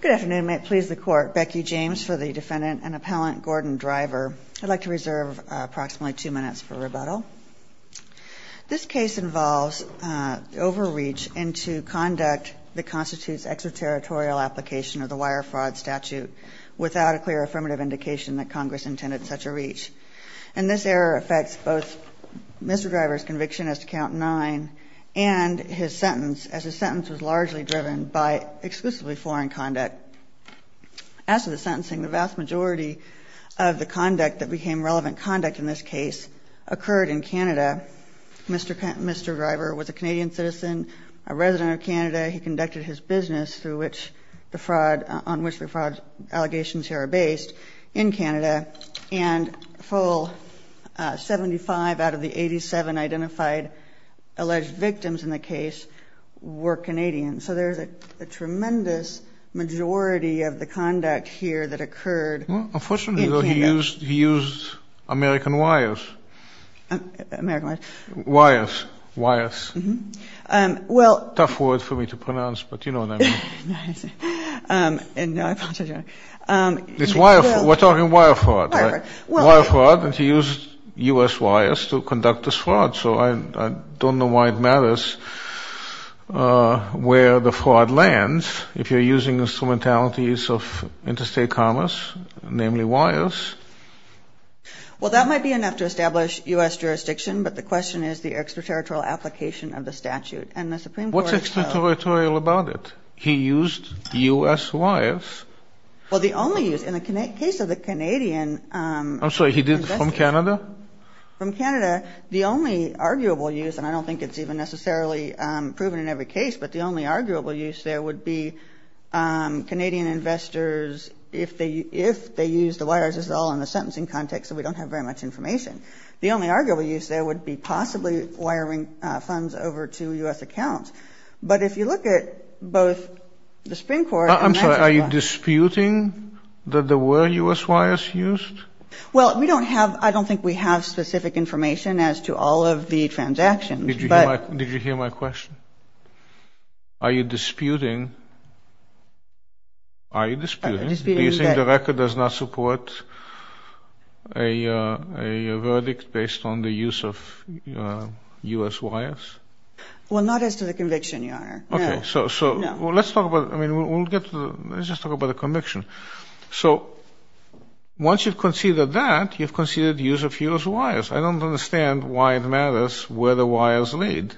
Good afternoon. May it please the court. Becky James for the defendant and appellant Gordon Driver. I'd like to reserve approximately two minutes for rebuttal. This case involves overreach into conduct that constitutes extraterritorial application of the wire fraud statute without a clear affirmative indication that Congress intended such a reach. And this error affects both Mr. Driver's conviction as to count nine and his sentence as a result of the foreign conduct. As to the sentencing, the vast majority of the conduct that became relevant conduct in this case occurred in Canada. Mr. Driver was a Canadian citizen, a resident of Canada. He conducted his business through which the fraud, on which the fraud allegations here are based, in Canada. And a full 75 out of the 87 identified alleged victims in the case were Canadian. So there's a tremendous majority of the conduct here that occurred in Canada. Unfortunately he used American wires. American what? Wires, wires. Well. Tough word for me to pronounce but you know what I mean. It's wire, we're talking wire fraud. Wire fraud and he used US wires to conduct this fraud. So I where the fraud lands if you're using instrumentalities of interstate commerce, namely wires. Well that might be enough to establish US jurisdiction but the question is the extraterritorial application of the statute. And the Supreme Court. What's extraterritorial about it? He used US wires. Well the only use in the case of the Canadian. I'm sorry he did from Canada? From Canada the only arguable use and I don't think it's even necessarily proven in every case but the only arguable use there would be Canadian investors if they if they use the wires. This is all in the sentencing context so we don't have very much information. The only arguable use there would be possibly wiring funds over to US accounts. But if you look at both the Supreme Court. I'm sorry are you disputing that there were US wires used? Well we don't have I don't think we have specific information as to all of the transactions. Did you hear my question? Are you disputing? Are you disputing? The record does not support a verdict based on the use of US wires? Well not as to the conviction your honor. Okay so let's talk about I mean we'll get let's just talk about the conviction. So once you've conceded that you've conceded use of US wires. I don't understand why it matters where the wires lead.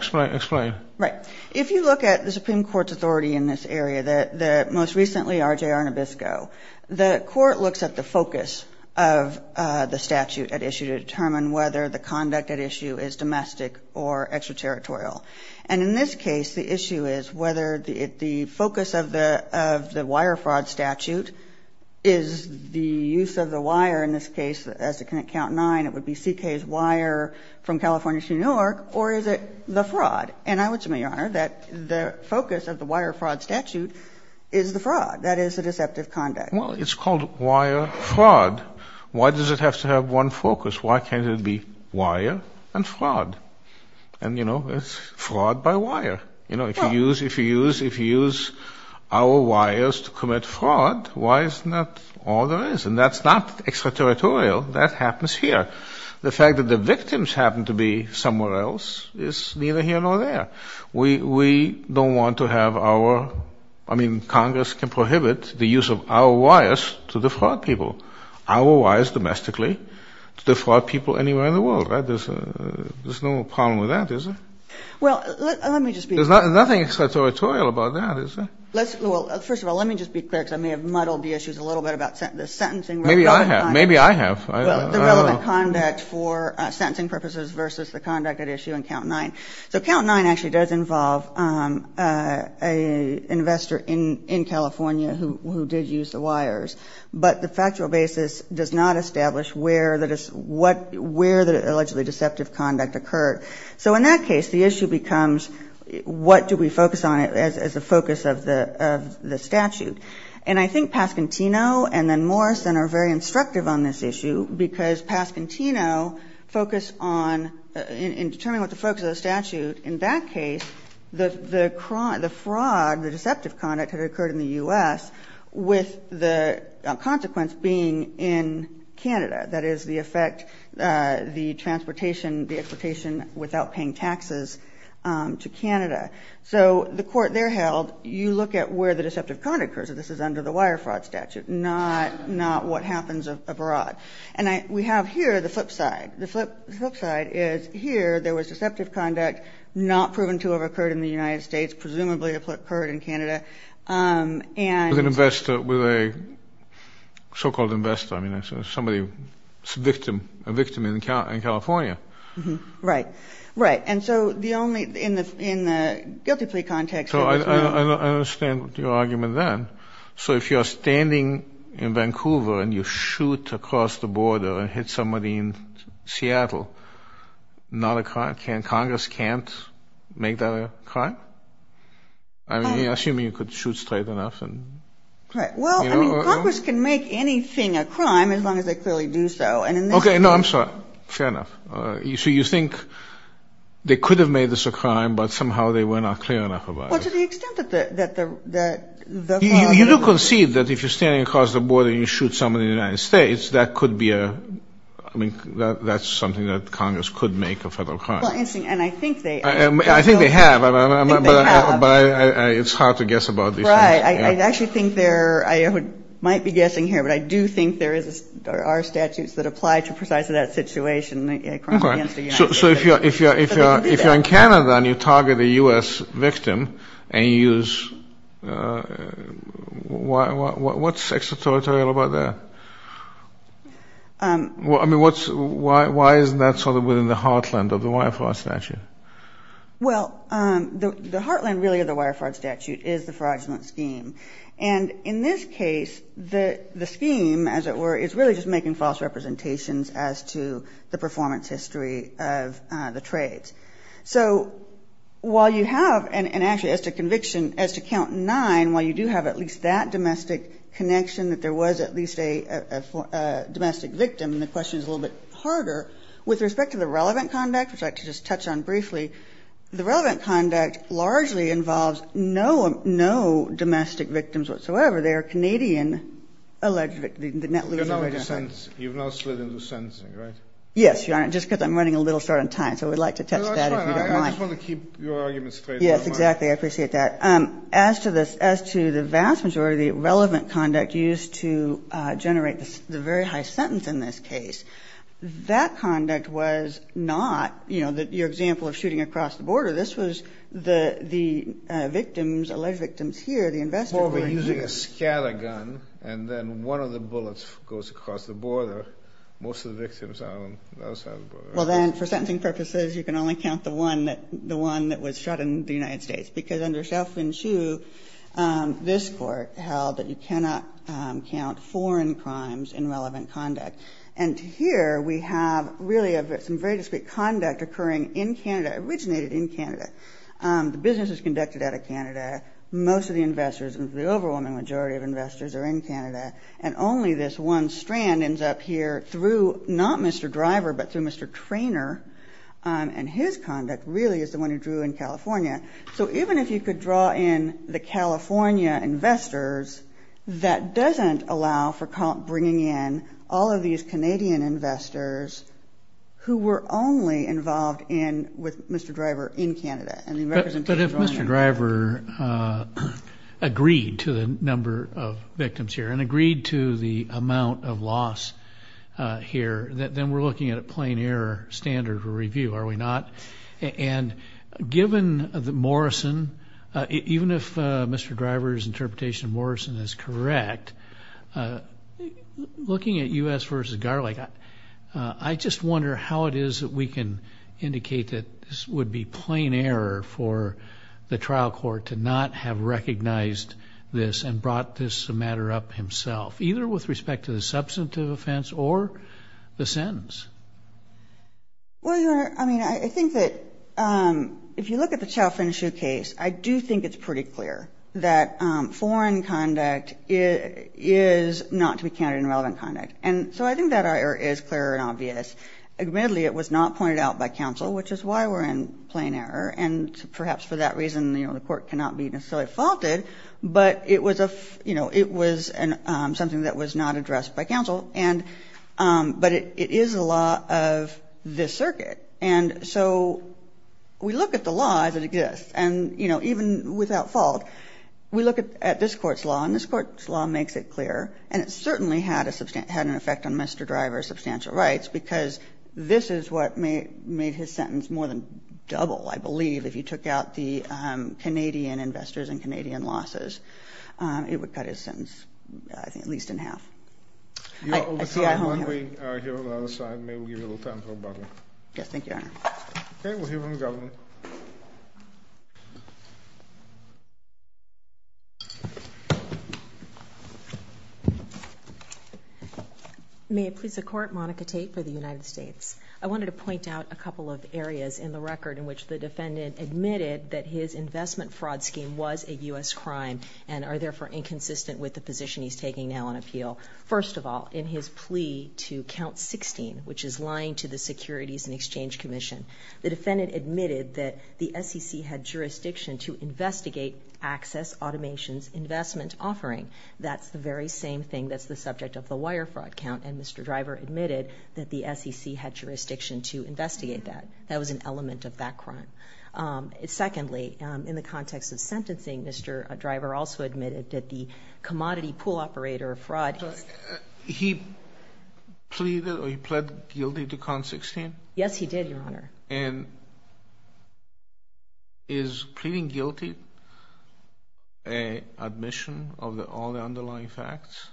Explain. Right if you look at the Supreme Court's authority in this area that the most recently RJ Arnabisco the court looks at the focus of the statute at issue to determine whether the conduct at issue is domestic or extraterritorial. And in this case the issue is whether the focus of the of the wire fraud statute is the use of the wire in this case as it can count nine it would be CK's wire from California to New York or is it the fraud? And I would say your honor that the focus of the wire fraud statute is the fraud. That is a deceptive conduct. Well it's called wire fraud. Why does it have to have one focus? Why can't it be wire and fraud? And you know it's fraud by our wires to commit fraud. Why isn't that all there is? And that's not extraterritorial. That happens here. The fact that the victims happen to be somewhere else is neither here nor there. We we don't want to have our I mean Congress can prohibit the use of our wires to defraud people. Our wires domestically defraud people anywhere in the world. There's no problem with that is it? Well let me just be. There's nothing extraterritorial about that is it? Let's well first of all let me just be clear because I may have muddled the issues a little bit about sentencing. Maybe I have. Maybe I have. The relevant conduct for sentencing purposes versus the conduct at issue in count nine. So count nine actually does involve a investor in in California who did use the wires. But the factual basis does not establish where that is what where the allegedly deceptive conduct occurred. So in that case the issue becomes what do we focus on it as a focus of the of the statute. And I think Pascantino and then Morrison are very instructive on this issue because Pascantino focus on in determining what the focus of the statute in that case the the crime the fraud the deceptive conduct had occurred in the US with the consequence being in Canada. That is the effect the transportation the exploitation without paying taxes to Canada. So the court there held you look at where the deceptive conduct occurs. This is under the wire fraud statute not not what happens abroad. And I we have here the flip side. The flip side is here there was deceptive conduct not proven to have occurred in the United States. Presumably occurred in Canada. And an investor with a so-called investor. I mean somebody victim a victim in California. Right. Right. And so the only in the in the guilty plea context. So I understand your argument then. So if you're standing in Vancouver and you shoot across the border and hit somebody in Seattle not a crime. Can Congress can't make that a crime? I mean assuming you could shoot straight enough and. Well I mean Congress can make anything a crime as long as they clearly do so. And. Okay. No I'm sorry. Fair enough. So you think they could have made this a crime but somehow they were not clear enough about it. Well to the extent that the that the that. You do concede that if you're standing across the border you shoot somebody in the United States that could be a. I mean that's something that Congress could make a federal crime. And I think they. I think they have. But it's hard to guess about these things. Right. I actually think there I might be guessing here but I do think there is our statutes that apply to precisely that situation. So if you're if you're if you're if you're in Canada and you target a U.S. victim and use. Why what's extraterritorial about that? I mean what's why why is that sort of within the heartland of the wire fraud statute? Well the heartland really of the wire fraud statute is the fraudulent scheme. And in this case the the scheme as it were is really just making false representations as to the performance history of the trades. So while you have and actually as to conviction as to count nine while you do have at least that domestic connection that there was at least a domestic victim. The question is a little bit harder with respect to the relevant conduct which I could just touch on briefly. The relevant conduct largely involves no no domestic victims whatsoever. They are Canadian alleged victims. You've now slid into sentencing right? Yes. Just because I'm running a little short on time. So we'd like to touch that if you don't mind. I just want to keep your argument straight. Yes exactly. I appreciate that. As to this as to the vast majority of the relevant conduct used to generate the very high sentence in this case that conduct was not you your example of shooting across the border. This was the the victims alleged victims here the investors were using a scattergun and then one of the bullets goes across the border. Most of the victims are on the other side of the border. Well then for sentencing purposes you can only count the one that the one that was shot in the United States because under Shelfman Shue this court held that you cannot count foreign crimes in relevant conduct. And here we have really some very discreet conduct occurring in Canada originated in Canada. The business was conducted out of Canada. Most of the investors and the overwhelming majority of investors are in Canada and only this one strand ends up here through not Mr. Driver but through Mr. Trainer and his conduct really is the one who drew in California. So even if you could draw in the California investors that doesn't allow for bringing in all of these Canadian investors who were only involved in with Mr. Driver in Canada. But if Mr. Driver agreed to the number of victims here and agreed to the amount of loss here that then we're looking at a plain error standard for review are we not. And given the Morrison even if Mr. Driver's interpretation Morrison is correct looking at U.S. versus garlic. I just wonder how it is that we can indicate that this would be plain error for the trial court to not have recognized this and brought this matter up himself either with respect to the substantive offense or the sentence. Well I mean I think that if you look at the is not to be counted in relevant conduct. And so I think that our error is clear and obvious. Admittedly it was not pointed out by counsel which is why we're in plain error. And perhaps for that reason the court cannot be necessarily faulted. But it was a you know it was something that was not addressed by counsel. And but it is a law of this circuit. And so we look at the law as it exists. And you know even without fault we look at this court's law and this court's law makes it clear. And it certainly had a substantial had an effect on Mr. Driver's substantial rights because this is what made his sentence more than double. I believe if you took out the Canadian investors and Canadian losses it would cut his sentence I think at least in half. You are over time. May we give you a little time for rebuttal. Yes thank you Your Honor. Okay we'll hear from the government. May it please the court Monica Tate for the United States. I wanted to point out a couple of areas in the record in which the defendant admitted that his investment fraud scheme was a U.S. crime and are therefore inconsistent with the position he's taking now on appeal. First of all in his plea to count 16 which is lying to the Securities and Exchange Commission. The defendant admitted that the SEC had not jurisdiction to investigate access automations investment offering. That's the very same thing that's the subject of the wire fraud count. And Mr. Driver admitted that the SEC had jurisdiction to investigate that. That was an element of that crime. Secondly in the context of sentencing Mr. Driver also admitted that the commodity pool operator fraud. He pleaded or he pled guilty to count 16? Yes he did Your Honor. And is pleading guilty an admission of all the underlying facts?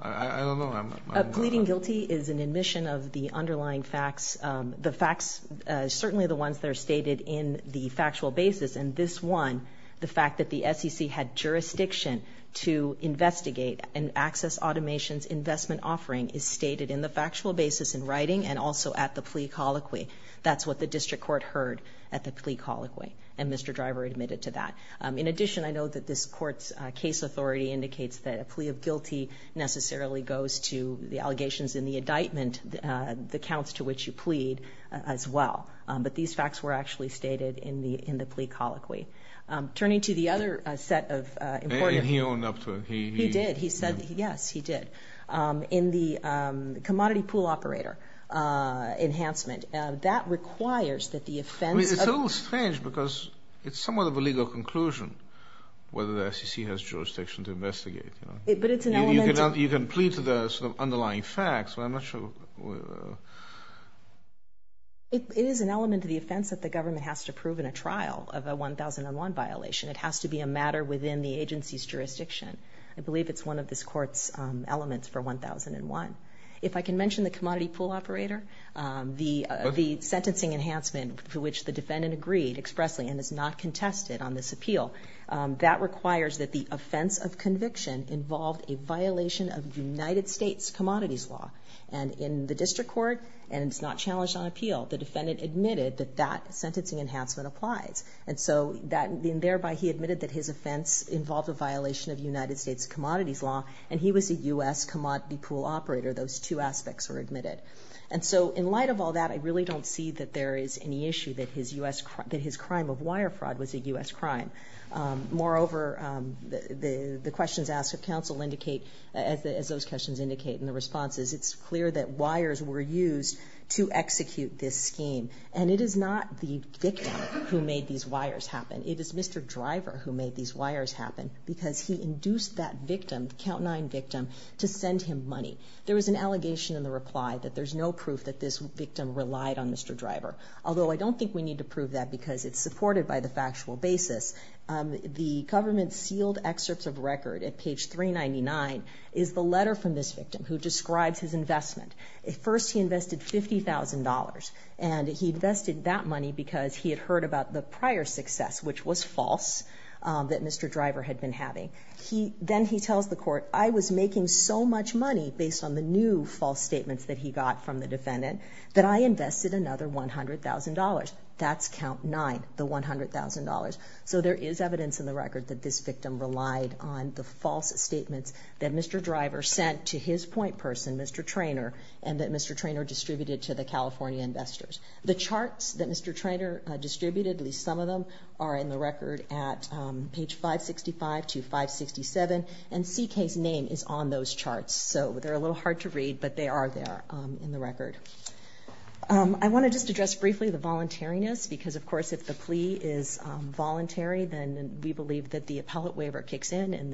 I don't know. Pleading guilty is an admission of the underlying facts. The facts certainly the ones that are stated in the factual basis and this one the fact that the SEC had jurisdiction to investigate an access automations investment offering is stated in the factual basis in writing and also at the plea colloquy. That's what the district court heard. At the plea colloquy. And Mr. Driver admitted to that. In addition I know that this court's case authority indicates that a plea of guilty necessarily goes to the allegations in the indictment. The counts to which you plead as well. But these facts were actually stated in the in the plea colloquy. Turning to the other set of. And he owned up to it. He did. He said yes he did. In the commodity pool operator enhancement that requires that the defense. It's a little strange because it's somewhat of a legal conclusion whether the SEC has jurisdiction to investigate. But it's an element. You can plead to the underlying facts but I'm not sure. It is an element of the offense that the government has to prove in a trial of a 1001 violation. It has to be a matter within the agency's jurisdiction. I believe it's one of this court's elements for 1001. If I can mention the commodity pool operator the sentencing enhancement for which the defendant agreed expressly and is not contested on this appeal. That requires that the offense of conviction involved a violation of United States commodities law. And in the district court. And it's not challenged on appeal. The defendant admitted that that sentencing enhancement applies. And so that thereby he admitted that his offense involved a violation of United States commodities law. And he was a U.S. commodity pool operator. Those two aspects were admitted. And so in light of all that I really don't see that there is any issue that his U.S. that his crime of wire fraud was a U.S. crime. Moreover the questions asked of counsel indicate as those questions indicate in the responses it's clear that wires were used to execute this scheme. And it is not the victim who made these wires happen. It is Mr. Driver who made these wires happen because he induced that victim count nine victim to send him money. There was an allegation in the reply that there's no proof that this victim relied on Mr. Driver. Although I don't think we need to prove that because it's supported by the factual basis. The government sealed excerpts of record at page 399 is the letter from this victim who describes his investment. At first he invested $50,000 and he invested that money because he had heard about the prior success which was false that Mr. Driver had been having. He then he tells the court I was making so much money based on the new false statements that he got from the defendant that I invested another $100,000. That's count nine, the $100,000. So there is evidence in the record that this victim relied on the false statements that Mr. Driver sent to his point person, Mr. Traynor, and that Mr. Traynor distributed to the California investors. The charts that Mr. Traynor distributed, at least some of them, are in the record at page 565 to 567 and CK's name is on those charts. So they're a little hard to read but they are there in the record. I want to just address briefly the voluntariness because of course if the plea is voluntary then we believe that the appellate waiver kicks in and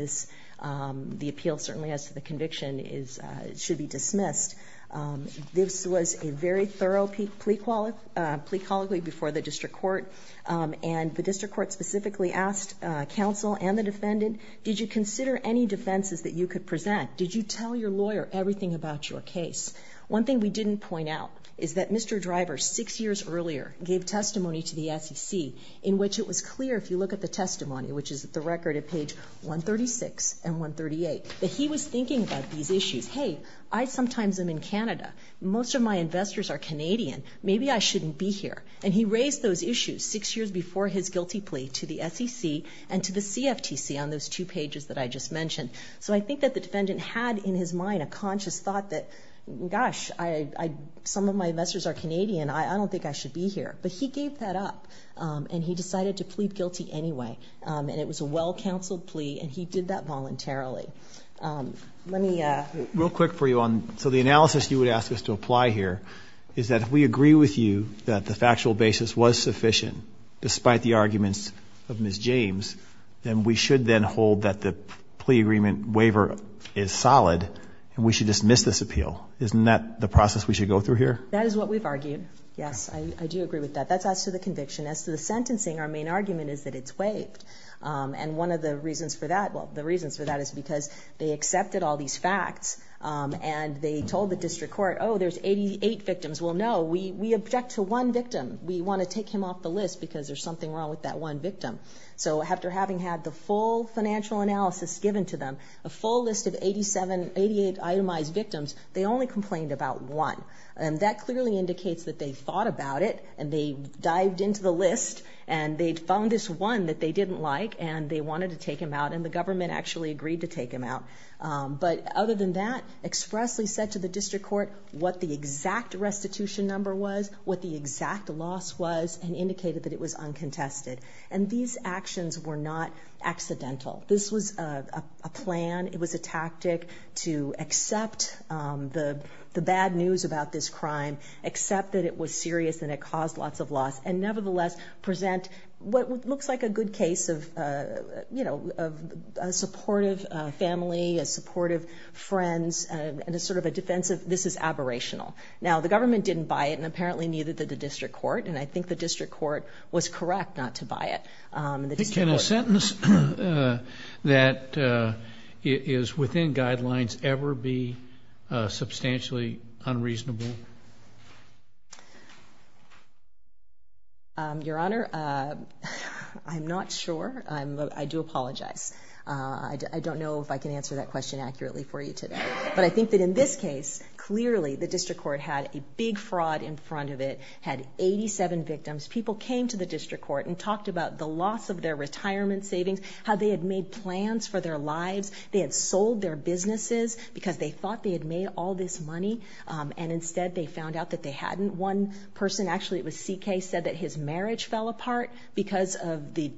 the appeal certainly as to the conviction should be dismissed. This was a very thorough plea colloquy before the district court and the district court specifically asked counsel and the defendant, did you consider any defenses that you could present? Did you tell your lawyer everything about your case? One thing we didn't point out is that Mr. Driver, six years earlier, gave testimony to the SEC in which it was clear, if you look at the testimony, which is the record at page 136 and 138, that he was thinking about these issues. Hey, I sometimes am in Canada. Most of my investors are Canadian. Maybe I shouldn't be here. And he raised those issues six years before his guilty plea to the SEC and to the CFTC on those two pages that I just mentioned. So I think that the defendant had in his mind a conscious thought that, gosh, some of my investors are Canadian. I don't think I should be here. But he gave that up and he decided to plead guilty anyway. And it was a well-counseled plea and he did that voluntarily. Real quick for you. So the analysis you would ask us to apply here is that if we agree with you that the factual basis was sufficient, despite the arguments of Ms. James, then we should then hold that the plea agreement waiver is solid and we should dismiss this appeal. Isn't that the process we should go through here? That is what we've argued. Yes, I do agree with that. That's as to the conviction. As to the sentencing, our main argument is that it's waived. And one of the reasons for that, well, the reasons for that is because they accepted all these facts and they told the district court, oh, there's 88 victims. Well, no, we object to one victim. We want to take him off the list because there's something wrong with that one victim. So after having had the full financial analysis given to them, a full list of 88 itemized victims, they only complained about one. And that clearly indicates that they thought about it and they dived into the list and they'd found this one that they didn't like and they wanted to take him out and the government actually agreed to take him out. But other than that, expressly said to the district court what the exact restitution number was, what the exact loss was, and indicated that it was uncontested. And these actions were not accidental. This was a plan. It was a tactic to accept the bad news about this crime, accept that it was serious and it caused lots of loss, and nevertheless present what looks like a good case of, you know, a supportive family. A supportive friends and a sort of a defensive. This is aberrational. Now, the government didn't buy it, and apparently neither did the district court. And I think the district court was correct not to buy it. The sentence that is within guidelines ever be substantially unreasonable. Your Honor, I'm not sure. I do apologize. I don't know if I can answer that question accurately for you today, but I think that in this case, clearly the district court had a big fraud in front of it, had 87 victims. People came to the district court and talked about the loss of their retirement savings, how they had made plans for their lives. They had sold their businesses because they thought they had made all this money, and instead they found out that they hadn't. One person, actually it was C.K., said that his marriage fell apart because of the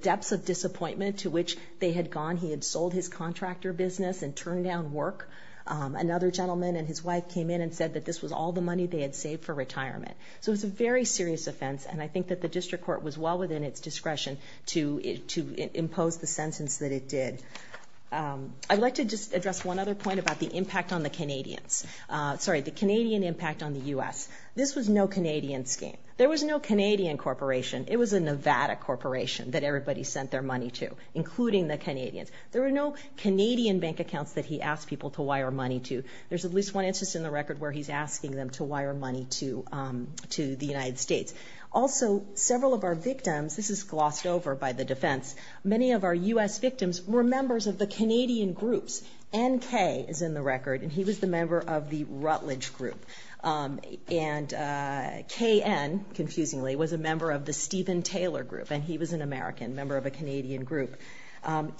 depths of disappointment to which they had gone. He had sold his contractor business and turned down work. Another gentleman and his wife came in and said that this was all the money they had saved for retirement. So it's a very serious offense, and I think that the district court was well within its discretion to impose the sentence that it did. I'd like to just address one other point about the impact on the Canadians. Sorry, the Canadian impact on the U.S. This was no Canadian scheme. There was no Canadian corporation. It was a Nevada corporation that everybody sent their money to, including the Canadians. There were no Canadian bank accounts that he asked people to wire money to. There's at least one instance in the record where he's asking them to wire money to the United States. Also, several of our victims, this is glossed over by the defense, many of our U.S. victims were members of the Canadian groups. N.K. is in the record, and he was the member of the Rutledge group. And K.N., confusingly, was a member of the Stephen Taylor group, and he was an American, a member of a Canadian group.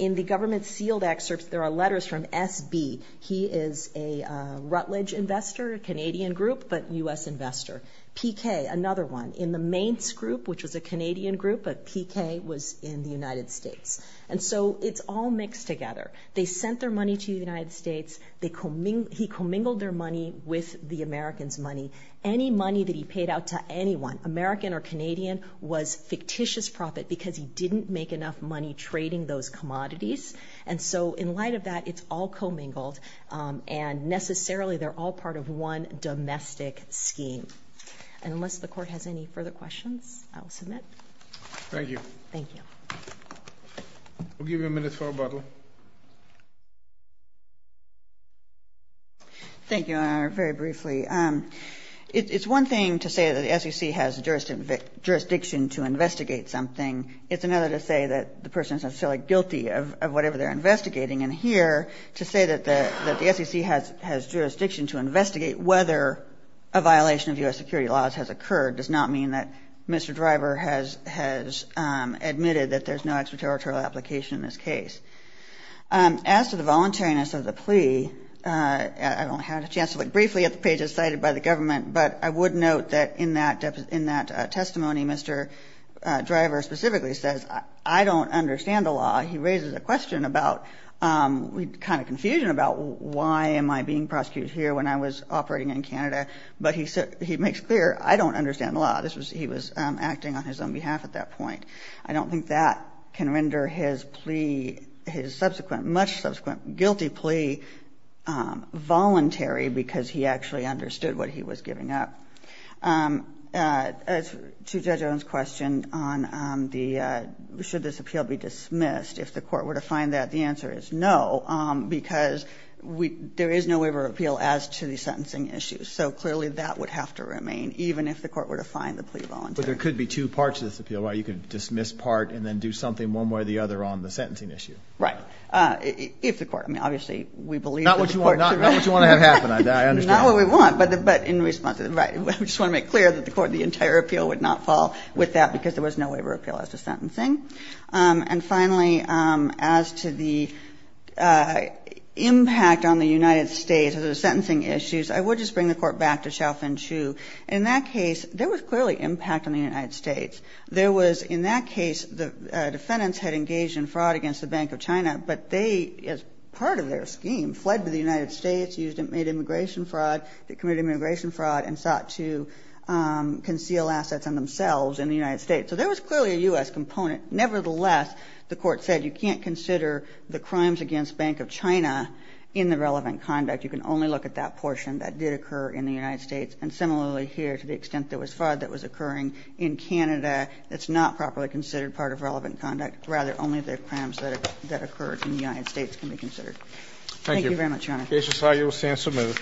In the government sealed excerpts, there are letters from S.B. He is a Rutledge investor, a Canadian group, but U.S. investor. P.K., another one, in the Mainz group, which was a Canadian group, but P.K. was in the United States. And so, it's all mixed together. They sent their money to the United States. He commingled their money with the Americans' money. Any money that he paid out to anyone, American or Canadian, was fictitious profit because he didn't make enough money trading in the U.S. And so, in light of that, it's all commingled, and necessarily, they're all part of one domestic scheme. And unless the Court has any further questions, I will submit. Thank you. Thank you. We'll give you a minute for rebuttal. Thank you, Your Honor. Very briefly. It's one thing to say that the SEC has jurisdiction to investigate something. It's another to say that the person is necessarily guilty of whatever they're investigating. And here, to say that the SEC has jurisdiction to investigate whether a violation of U.S. security laws has occurred does not mean that Mr. Driver has admitted that there's no extraterritorial application in this case. As to the voluntariness of the plea, I don't have a chance to look briefly at the pages cited by the government, but I would note that in that testimony, Mr. Driver specifically says, I don't understand the law. He raises a question about, kind of confusion about, why am I being prosecuted here when I was operating in Canada? But he makes clear, I don't understand the law. He was acting on his own behalf at that point. I don't think that can render his plea, his subsequent, much subsequent guilty plea, voluntary because he actually understood what he was giving up. As to Judge Owen's question on the, should this appeal be dismissed, if the court were to find that, the answer is no, because there is no waiver of appeal as to the sentencing issue. So clearly that would have to remain, even if the court were to find the plea voluntary. But there could be two parts to this appeal, right? You could dismiss part and then do something one way or the other on the sentencing issue. Right. If the court, I mean, obviously we believe that the court. Not what you want to have happen, I understand. Not what we want, but in response, right. We just want to make clear that the court, the entire appeal would not fall with that because there was no waiver of appeal as to sentencing. And finally, as to the impact on the United States of the sentencing issues, I would just bring the court back to Shaofen Chu. In that case, there was clearly impact on the United States. There was, in that case, the defendants had engaged in fraud against the Bank of China, but they, as part of their scheme, fled to the United States, used and made immigration fraud, committed immigration fraud, and sought to conceal assets on themselves in the United States. So there was clearly a U.S. component. Nevertheless, the court said you can't consider the crimes against Bank of China in the relevant conduct. You can only look at that portion that did occur in the United States. And similarly here, to the extent there was fraud that was occurring in Canada, it's not properly considered part of relevant conduct. Rather, only the crimes that occurred in the United States can be considered. Thank you very much, Your Honor. Thank you. The case is filed. You will stand submitted.